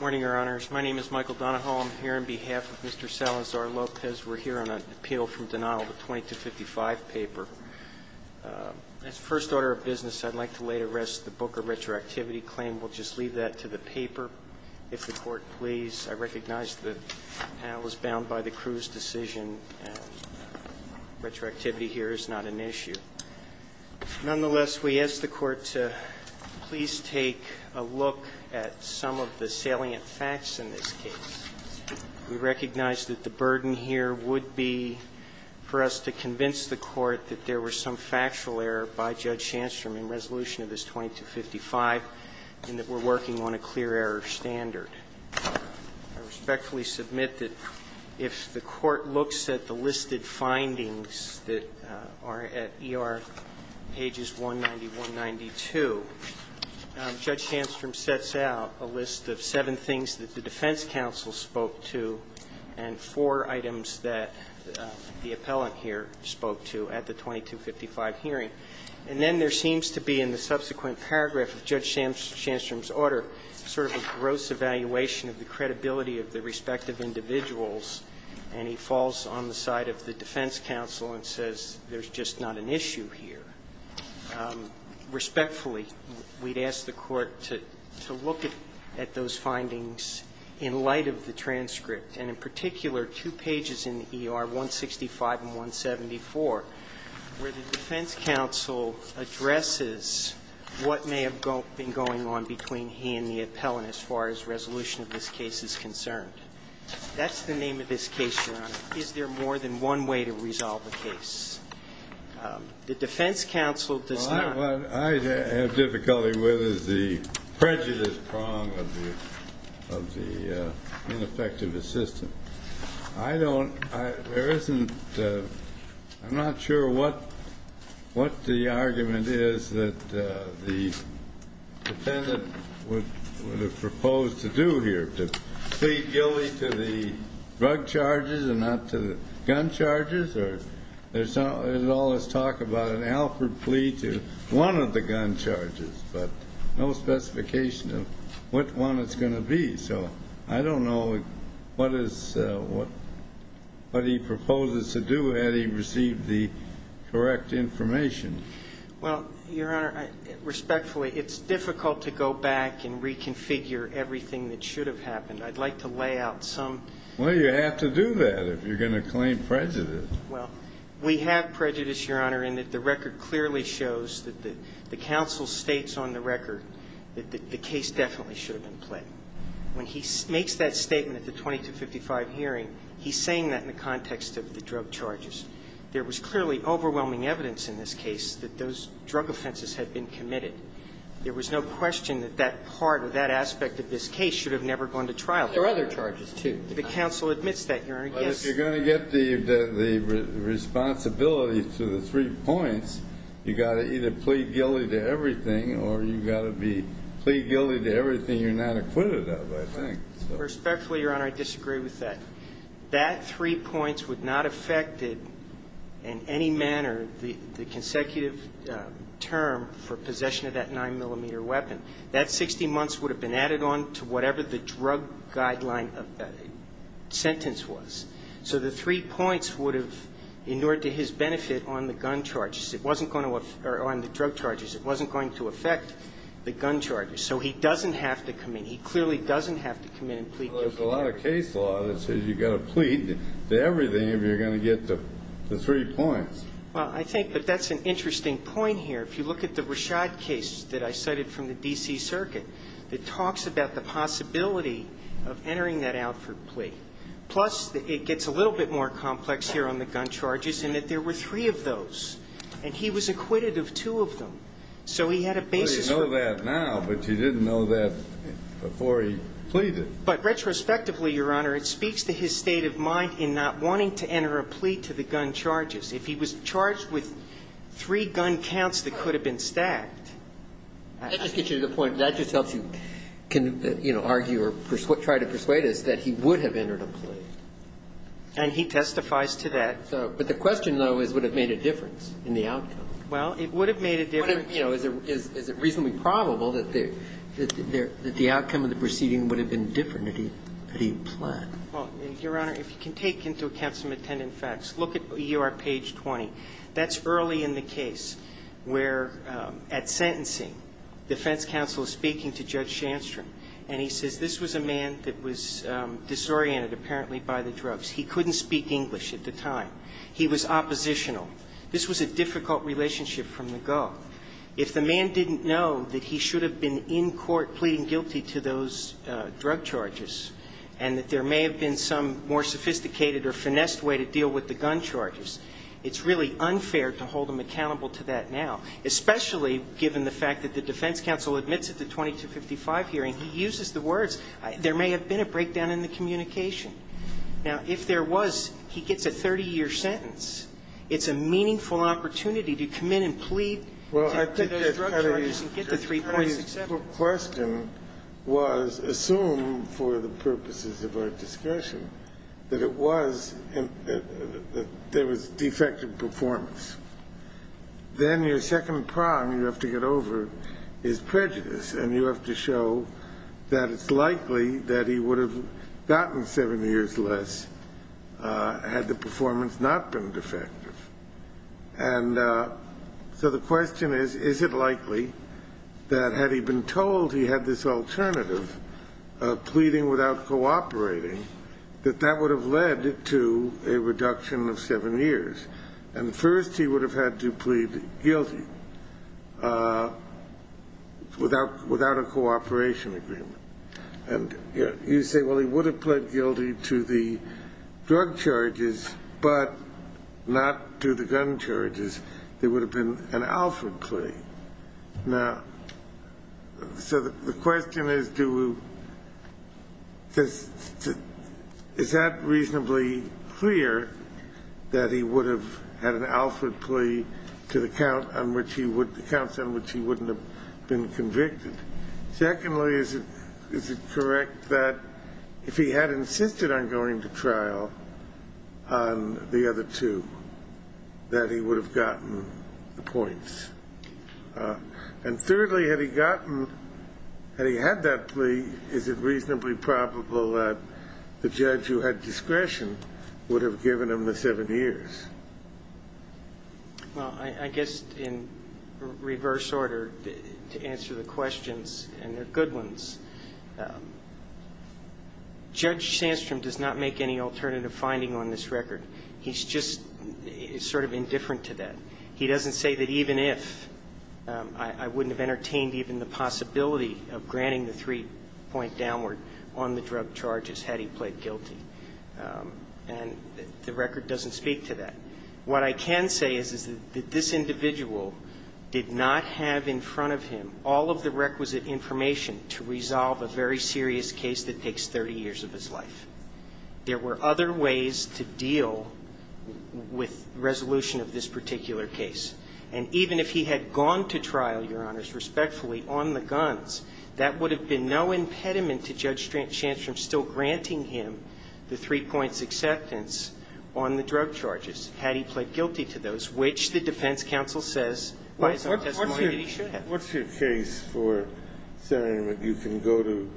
Morning, Your Honors. My name is Michael Donahoe. I'm here on behalf of Mr. Salazar Lopez. We're here on an appeal from denial of a 2255 paper. As first order of business, I'd like to lay to rest the book of retroactivity claim. We'll just leave that to the paper, if the Court please. I recognize that I was bound by the crew's decision. Retroactivity here is not an issue. Nonetheless, we ask the Court to please take a look at some of the salient facts in this case. We recognize that the burden here would be for us to convince the Court that there was some factual error by Judge Shandstrom in resolution of this 2255, and that we're working on a clear error standard. I respectfully submit that if the Court looks at the listed findings that are at ER pages 190, 192, Judge Shandstrom sets out a list of seven things that the defense counsel spoke to and four items that the appellant here spoke to at the 2255 hearing. And then there seems to be in the subsequent paragraph of Judge Shandstrom's order sort of a gross evaluation of the credibility of the respective individuals, and he falls on the side of the defense counsel and says there's just not an issue here. Respectfully, we'd ask the Court to look at those findings in light of the transcript, and in particular two pages in the ER, 165 and 174, where the defense counsel addresses what may have been going on between he and the appellant as far as resolution of this case is concerned. Is there more than one way to resolve the case? The defense counsel does not. What I have difficulty with is the prejudice prong of the ineffective assistant. I don't – there isn't – I'm not sure what the argument is that the defendant would have proposed to do here, to plead guilty to the drug charges and not to the gun charges? Or there's all this talk about an Alford plea to one of the gun charges, but no specification of which one it's going to be. So I don't know what is – what he proposes to do had he received the correct information. Well, Your Honor, respectfully, it's difficult to go back and reconfigure everything that should have happened. I'd like to lay out some – Well, you have to do that if you're going to claim prejudice. Well, we have prejudice, Your Honor, in that the record clearly shows that the counsel states on the record that the case definitely should have been pled. When he makes that statement at the 2255 hearing, he's saying that in the context of the drug charges. There was clearly overwhelming evidence in this case that those drug offenses had been committed. There was no question that that part or that aspect of this case should have never gone to trial. There were other charges, too. The counsel admits that, Your Honor. Yes. But if you're going to get the responsibility to the three points, you've got to either plead guilty to everything or you've got to be plead guilty to everything you're not acquitted of, I think. Respectfully, Your Honor, I disagree with that. That three points would not have affected in any manner the consecutive term for possession of that 9-millimeter weapon. That 60 months would have been added on to whatever the drug guideline sentence was. So the three points would have endured to his benefit on the gun charges. It wasn't going to – or on the drug charges. It wasn't going to affect the gun charges. So he doesn't have to come in. He clearly doesn't have to come in and plead guilty. Well, there's a lot of case law that says you've got to plead to everything if you're going to get the three points. Well, I think that that's an interesting point here. If you look at the Rashad case that I cited from the D.C. Circuit, it talks about the possibility of entering that out for plea. Plus, it gets a little bit more complex here on the gun charges in that there were three of those, and he was acquitted of two of them. So he had a basis for it. Well, you know that now, but you didn't know that before he pleaded. But retrospectively, Your Honor, it speaks to his state of mind in not wanting to enter a plea to the gun charges. If he was charged with three gun counts that could have been stacked. That just gets you to the point. That just helps you argue or try to persuade us that he would have entered a plea. And he testifies to that. But the question, though, is would it have made a difference in the outcome? Well, it would have made a difference. But, you know, is it reasonably probable that the outcome of the proceeding would have been different had he planned? Well, Your Honor, if you can take into account some attendant facts, look at U.R. page 20. That's early in the case where at sentencing, defense counsel is speaking to Judge Shandstrom, and he says this was a man that was disoriented, apparently, by the drugs. He couldn't speak English at the time. He was oppositional. This was a difficult relationship from the go. If the man didn't know that he should have been in court pleading guilty to those drug charges and that there may have been some more sophisticated or finessed way to deal with the gun charges, it's really unfair to hold him accountable to that now, especially given the fact that the defense counsel admits at the 2255 hearing he uses the words, there may have been a breakdown in the communication. Now, if there was, he gets a 30-year sentence. It's a meaningful opportunity to come in and plead to those drug charges and get the 3.67. Well, I think the question was, assume for the purposes of our discussion that it was that there was defective performance. Then your second problem you have to get over is prejudice, and you have to show that it's likely that he would have gotten 7 years less had the performance not been defective. And so the question is, is it likely that had he been told he had this alternative of pleading without cooperating, that that would have led to a reduction of 7 years? And first he would have had to plead guilty without a cooperation agreement. And you say, well, he would have pled guilty to the drug charges but not to the gun charges. There would have been an Alfred plea. Now, so the question is, do we – is that reasonably clear, that he would have had an Alfred plea to the count on which he would – the counts on which he wouldn't have been convicted? Secondly, is it correct that if he had insisted on going to trial on the other two, that he would have gotten the points? And thirdly, had he gotten – had he had that plea, is it reasonably probable that the judge who had discretion would have given him the 7 years? Well, I guess in reverse order, to answer the questions, and they're good ones, Judge Sandstrom does not make any alternative finding on this record. He's just sort of indifferent to that. He doesn't say that even if – I wouldn't have entertained even the possibility of granting the 3-point downward on the drug charges had he pled guilty. And the record doesn't speak to that. What I can say is that this individual did not have in front of him all of the requisite information to resolve a very serious case that takes 30 years of his life. There were other ways to deal with resolution of this particular case. And even if he had gone to trial, Your Honors, respectfully, on the guns, that would have been no impediment to Judge Sandstrom still granting him the 3-points acceptance on the drug charges had he pled guilty to those, which the defense counsel says he should have. What's your case for saying that you can go to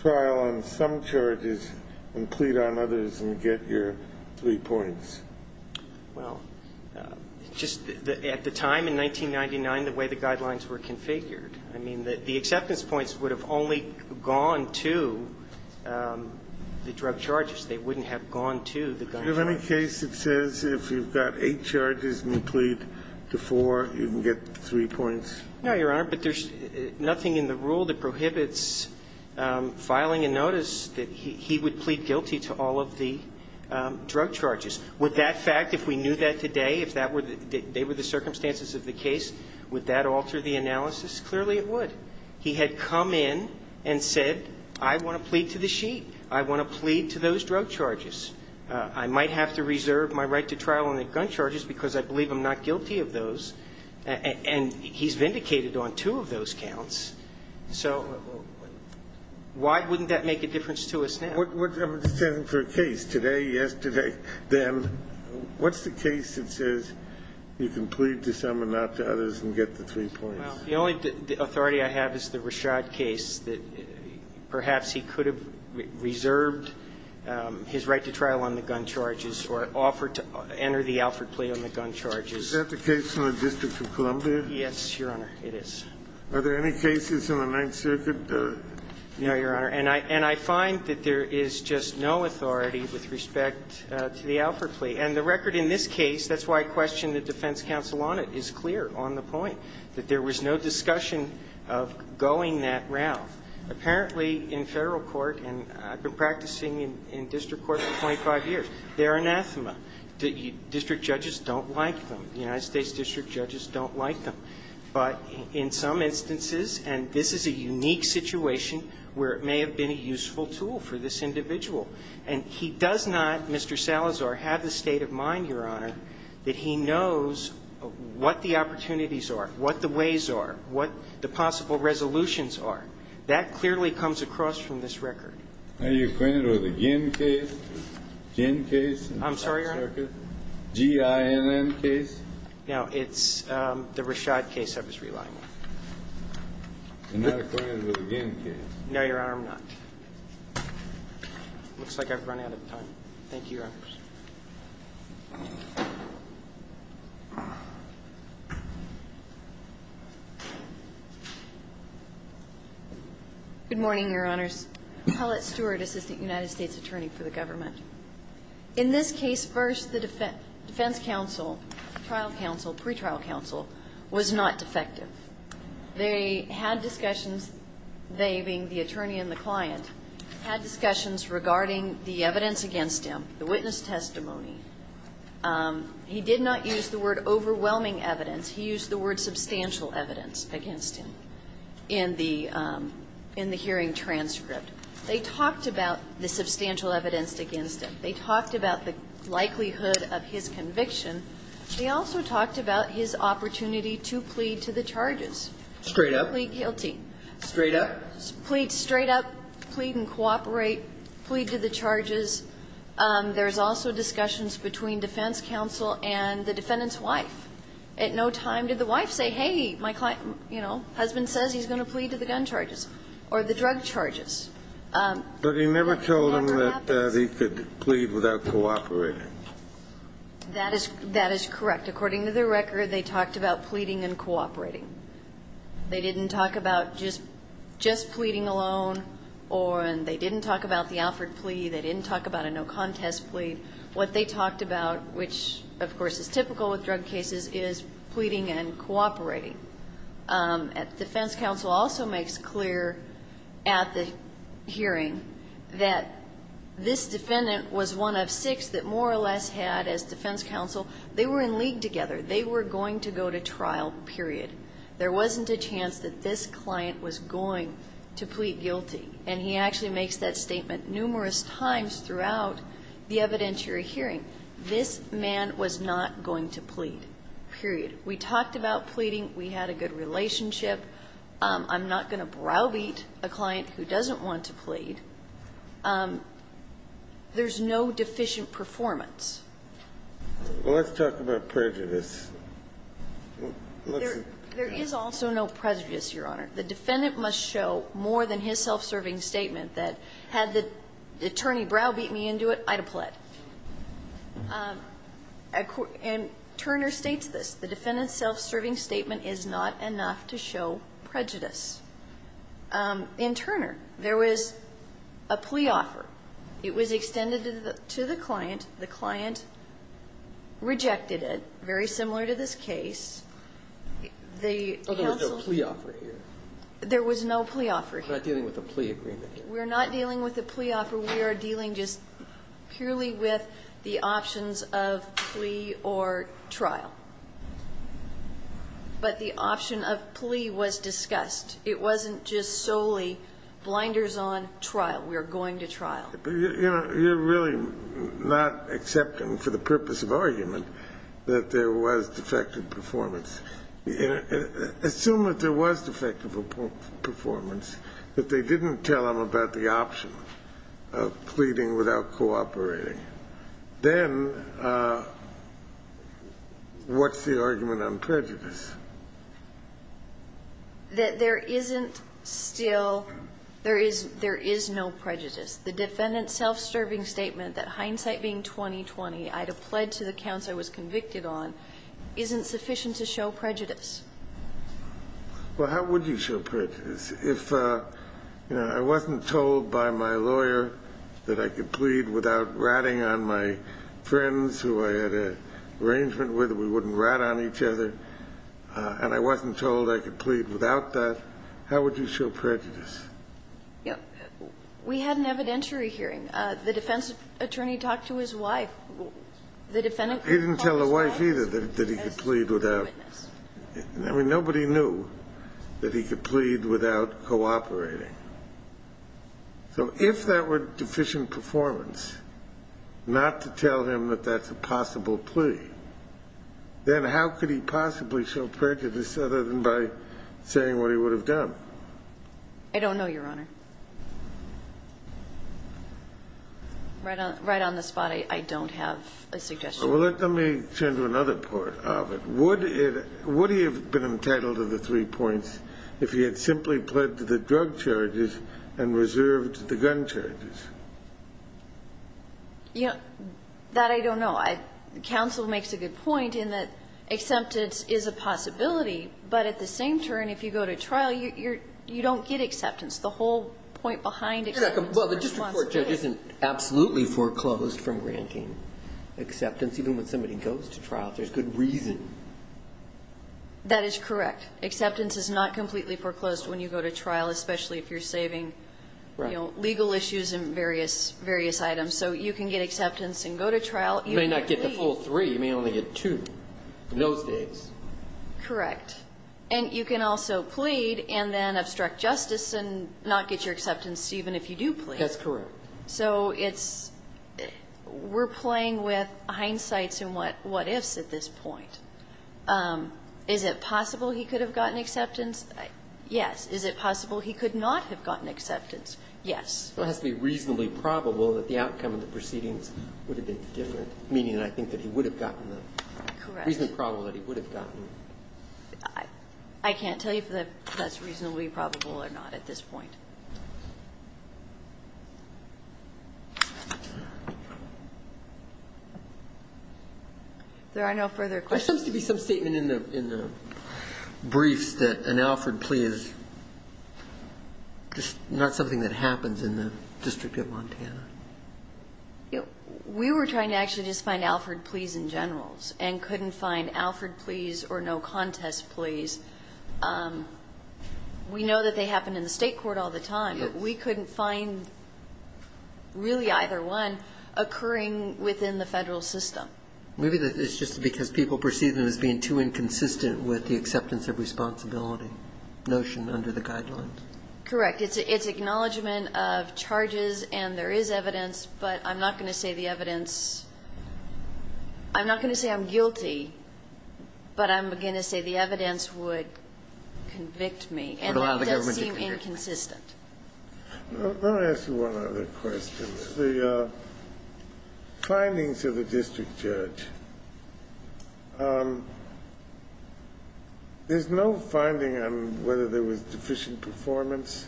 trial on some charges and plead on others and get your 3 points? Well, just at the time in 1999, the way the guidelines were configured, I mean, the acceptance points would have only gone to the drug charges. They wouldn't have gone to the guns. Do you have any case that says if you've got 8 charges and you plead to 4, you can get 3 points? No, Your Honor, but there's nothing in the rule that prohibits filing a notice that he would plead guilty to all of the drug charges. Would that fact, if we knew that today, if that were the – they were the circumstances of the case, would that alter the analysis? Clearly, it would. He had come in and said, I want to plead to the sheet. I want to plead to those drug charges. I might have to reserve my right to trial on the gun charges because I believe I'm not guilty of those. And he's vindicated on two of those counts. So why wouldn't that make a difference to us now? I'm just asking for a case. Today, yesterday, then, what's the case that says you can plead to some and not to others and get the 3 points? Well, the only authority I have is the Rashad case that perhaps he could have reserved his right to trial on the gun charges or offered to enter the Alford plea on the gun charges. Is that the case in the District of Columbia? Yes, Your Honor, it is. Are there any cases in the Ninth Circuit? No, Your Honor. And I find that there is just no authority with respect to the Alford plea. And the record in this case, that's why I question the defense counsel on it, is clear on the point that there was no discussion of going that route. Apparently, in Federal court, and I've been practicing in district court for 25 years, they're anathema. District judges don't like them. The United States district judges don't like them. But in some instances, and this is a unique situation where it may have been a useful tool for this individual, and he does not, Mr. Salazar, have the state of mind, Your Honor, that he knows what the opportunities are, what the ways are, what the possible resolutions are. That clearly comes across from this record. Are you acquainted with the Ginn case? Ginn case in the Ninth Circuit? I'm sorry, Your Honor. G-I-N-N case? No. It's the Rashad case I was relying on. You're not acquainted with the Ginn case? No, Your Honor, I'm not. It looks like I've run out of time. Thank you, Your Honor. Good morning, Your Honors. Paulette Stewart, Assistant United States Attorney for the Government. In this case, first, the defense counsel, trial counsel, pretrial counsel, was not defective. They had discussions, they being the attorney and the client, had discussions regarding the evidence against him, the witness testimony. He did not use the word overwhelming evidence. He used the word substantial evidence against him in the hearing transcript. They talked about the substantial evidence against him. They talked about the likelihood of his conviction. They also talked about his opportunity to plead to the charges. Straight up? Plead guilty. Straight up? Plead straight up, plead and cooperate, plead to the charges. There's also discussions between defense counsel and the defendant's wife. At no time did the wife say, hey, my client, you know, husband says he's going to plead to the gun charges or the drug charges. But he never told him that he could plead without cooperating. That is correct. According to the record, they talked about pleading and cooperating. They didn't talk about just pleading alone. They didn't talk about the Alford plea. They didn't talk about a no contest plea. What they talked about, which, of course, is typical with drug cases, is pleading and cooperating. Defense counsel also makes clear at the hearing that this defendant was one of six that more or less had, as defense counsel, they were in league together. They were going to go to trial, period. There wasn't a chance that this client was going to plead guilty. And he actually makes that statement numerous times throughout the evidentiary hearing. This man was not going to plead, period. We talked about pleading. We had a good relationship. I'm not going to browbeat a client who doesn't want to plead. There's no deficient performance. Well, let's talk about prejudice. There is also no prejudice, Your Honor. The defendant must show more than his self-serving statement that had the attorney browbeat me into it, I'd have pled. And Turner states this. The defendant's self-serving statement is not enough to show prejudice. In Turner, there was a plea offer. It was extended to the client. The client rejected it. Very similar to this case. The counsel's ---- There was no plea offer here. There was no plea offer here. We're not dealing with a plea agreement here. We're not dealing with a plea offer. We are dealing just purely with the options of plea or trial. But the option of plea was discussed. It wasn't just solely blinders on trial. We are going to trial. But, you know, you're really not accepting for the purpose of argument that there was defective performance. Assume that there was defective performance, that they didn't tell him about the option of pleading without cooperating. Then what's the argument on prejudice? There isn't still ---- there is no prejudice. The defendant's self-serving statement that hindsight being 20-20, I'd have pled to the counts I was convicted on, isn't sufficient to show prejudice. Well, how would you show prejudice? If, you know, I wasn't told by my lawyer that I could plead without ratting on my friends who I had an arrangement with, we wouldn't rat on each other, and I wasn't told I could plead without that, how would you show prejudice? Yeah. We had an evidentiary hearing. The defense attorney talked to his wife. The defendant ---- He didn't tell the wife either that he could plead without. I mean, nobody knew that he could plead without cooperating. So if that were deficient performance, not to tell him that that's a possible plea, then how could he possibly show prejudice other than by saying what he would have done? I don't know, Your Honor. Right on the spot, I don't have a suggestion. Well, let me turn to another part of it. Would it ---- would he have been entitled to the three points if he had simply pled to the drug charges and reserved the gun charges? You know, that I don't know. Counsel makes a good point in that acceptance is a possibility, but at the same turn, if you go to trial, you don't get acceptance. The whole point behind acceptance ---- Well, the district court judge isn't absolutely foreclosed from granting acceptance. Even when somebody goes to trial, if there's good reason. That is correct. Acceptance is not completely foreclosed when you go to trial, especially if you're saving legal issues and various items. So you can get acceptance and go to trial. You may not get the full three. You may only get two in those days. Correct. And you can also plead and then obstruct justice and not get your acceptance even if you do plead. That's correct. So it's ---- we're playing with hindsights and what ifs at this point. Is it possible he could have gotten acceptance? Yes. Is it possible he could not have gotten acceptance? Yes. It has to be reasonably probable that the outcome of the proceedings would have been different, meaning I think that he would have gotten them. Correct. It has to be reasonably probable that he would have gotten them. I can't tell you if that's reasonably probable or not at this point. There are no further questions. There seems to be some statement in the briefs that an Alfred plea is just not something that happens in the District of Montana. We were trying to actually just find Alfred pleas in generals and couldn't find Alfred pleas or no contest pleas. We know that they happen in the state court all the time. We couldn't find really either one occurring within the Federal system. Maybe it's just because people perceive them as being too inconsistent with the acceptance of responsibility notion under the guidelines. Correct. It's acknowledgment of charges and there is evidence, but I'm not going to say the evidence – I'm not going to say I'm guilty, but I'm going to say the evidence would convict me. And it does seem inconsistent. Let me ask you one other question. The findings of the district judge, there's no finding on whether there was deficient performance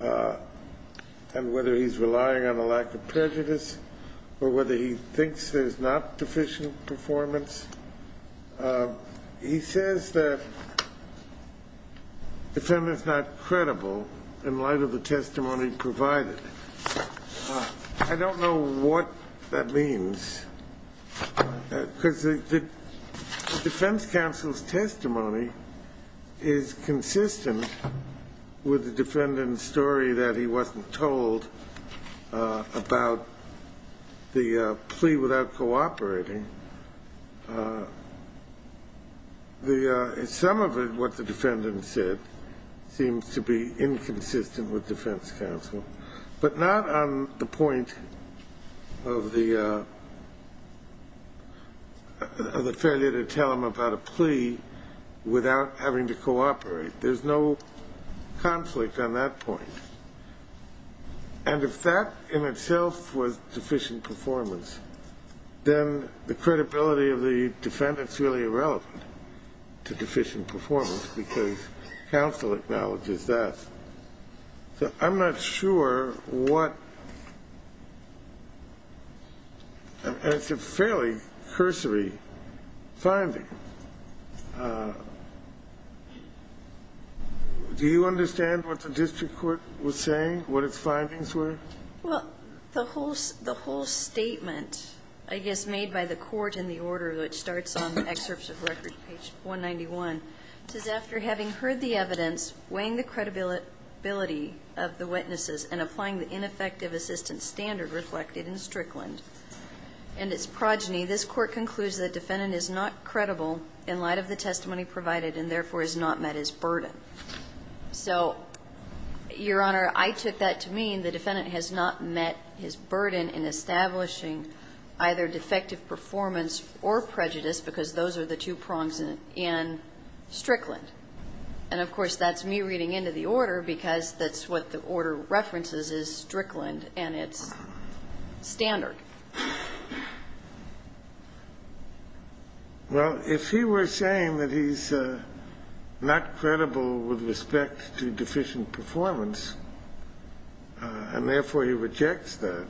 and whether he's relying on a lack of prejudice or whether he thinks there's not deficient performance. He says the defendant's not credible in light of the testimony provided. I don't know what that means because the defense counsel's testimony is consistent with the defendant's story that he wasn't told about the plea without cooperating. Some of what the defendant said seems to be inconsistent with defense counsel, but not on the point of the failure to tell him about a plea without having to cooperate. There's no conflict on that point. And if that in itself was deficient performance, then the credibility of the defendant is really irrelevant to deficient performance because counsel acknowledges that. So I'm not sure what – and it's a fairly cursory finding. Do you understand what the district court was saying, what its findings were? Well, the whole statement, I guess, made by the court in the order that starts on excerpts of records, page 191. It says, after having heard the evidence, weighing the credibility of the witnesses and applying the ineffective assistance standard reflected in Strickland and its progeny, this court concludes that the defendant is not credible in light of the testimony provided and therefore has not met his burden. So, Your Honor, I took that to mean the defendant has not met his burden in establishing either defective performance or prejudice because those are the two prongs in Strickland. And, of course, that's me reading into the order because that's what the order references is Strickland and its standard. Well, if he were saying that he's not credible with respect to deficient performance and therefore he rejects that,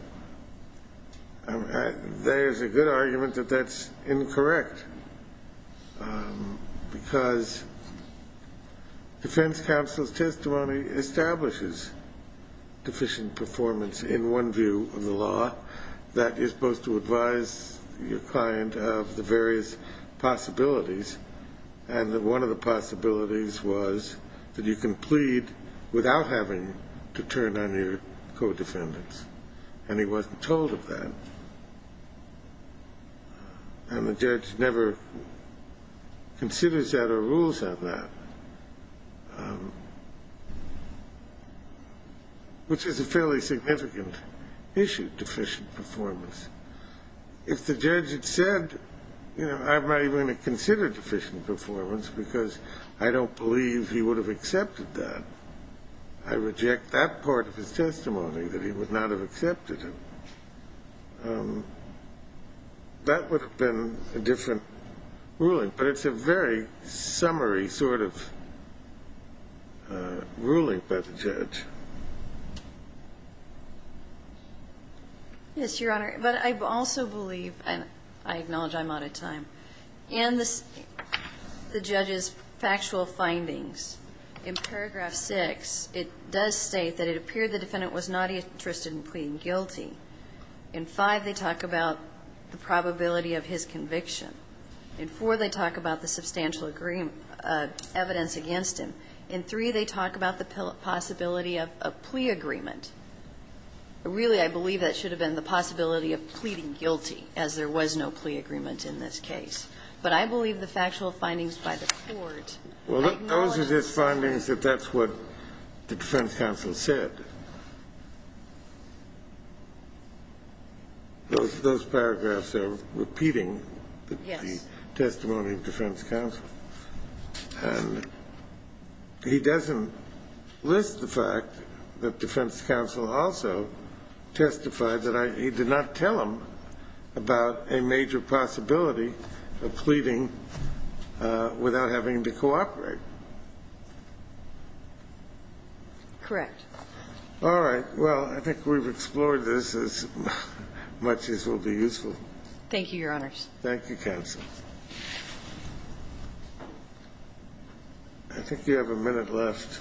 there's a good argument that that's incorrect because defense counsel's testimony establishes deficient performance in one view of the law that is supposed to advise your client of the various possibilities and that one of the possibilities was that you can plead without having to turn on your co-defendants, and he wasn't told of that. And the judge never considers that or rules on that, which is a fairly significant issue, deficient performance. If the judge had said, you know, I'm not even going to consider deficient performance because I don't believe he would have accepted that, I reject that part of his testimony that he would not have accepted it, that would have been a different ruling. But it's a very summary sort of ruling by the judge. Yes, Your Honor. But I also believe, and I acknowledge I'm out of time, in the judge's factual findings in paragraph 6, it does state that it appeared the defendant was not interested in pleading guilty. In 5, they talk about the probability of his conviction. In 4, they talk about the substantial evidence against him. In 3, they talk about the possibility of a plea agreement. Really, I believe that should have been the possibility of pleading guilty, as there was no plea agreement in this case. But I believe the factual findings by the court acknowledge that. Well, those are his findings that that's what the defense counsel said. Those paragraphs are repeating the testimony of defense counsel. And he doesn't list the fact that defense counsel also testified that he did not tell him about a major possibility of pleading without having to cooperate. Correct. All right. Well, I think we've explored this as much as will be useful. Thank you, Your Honors. Thank you, counsel. I think you have a minute left.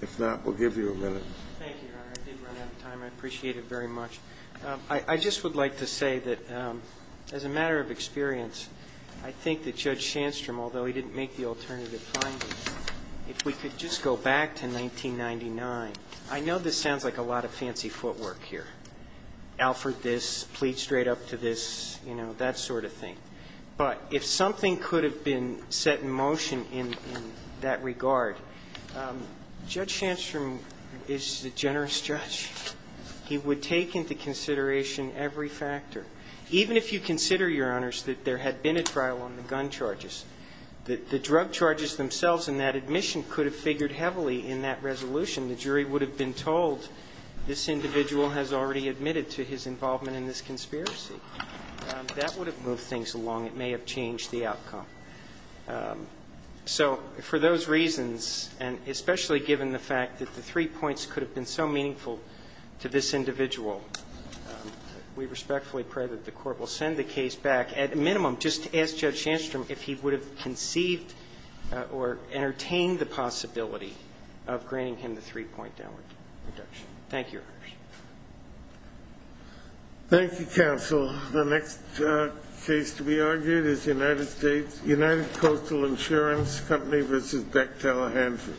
If not, we'll give you a minute. Thank you, Your Honor. I did run out of time. I appreciate it very much. I just would like to say that, as a matter of experience, I think that Judge Shandstrom, although he didn't make the alternative findings, if we could just go back to 1999 – I know this sounds like a lot of fancy footwork here, Alfred this, plead straight up to this, you know, that sort of thing. But if something could have been set in motion in that regard, Judge Shandstrom is a generous judge. He would take into consideration every factor. Even if you consider, Your Honors, that there had been a trial on the gun charges, the drug charges themselves in that admission could have figured heavily in that resolution. The jury would have been told, this individual has already admitted to his involvement in this conspiracy. That would have moved things along. It may have changed the outcome. So for those reasons, and especially given the fact that the three points could have been so meaningful to this individual, we respectfully pray that the Court will send the case back. At a minimum, just ask Judge Shandstrom if he would have conceived or entertained the possibility of granting him the three-point downward reduction. Thank you, Your Honors. Thank you, Counsel. The next case to be argued is United States, United Coastal Insurance Company v. Beck, Tallahansee.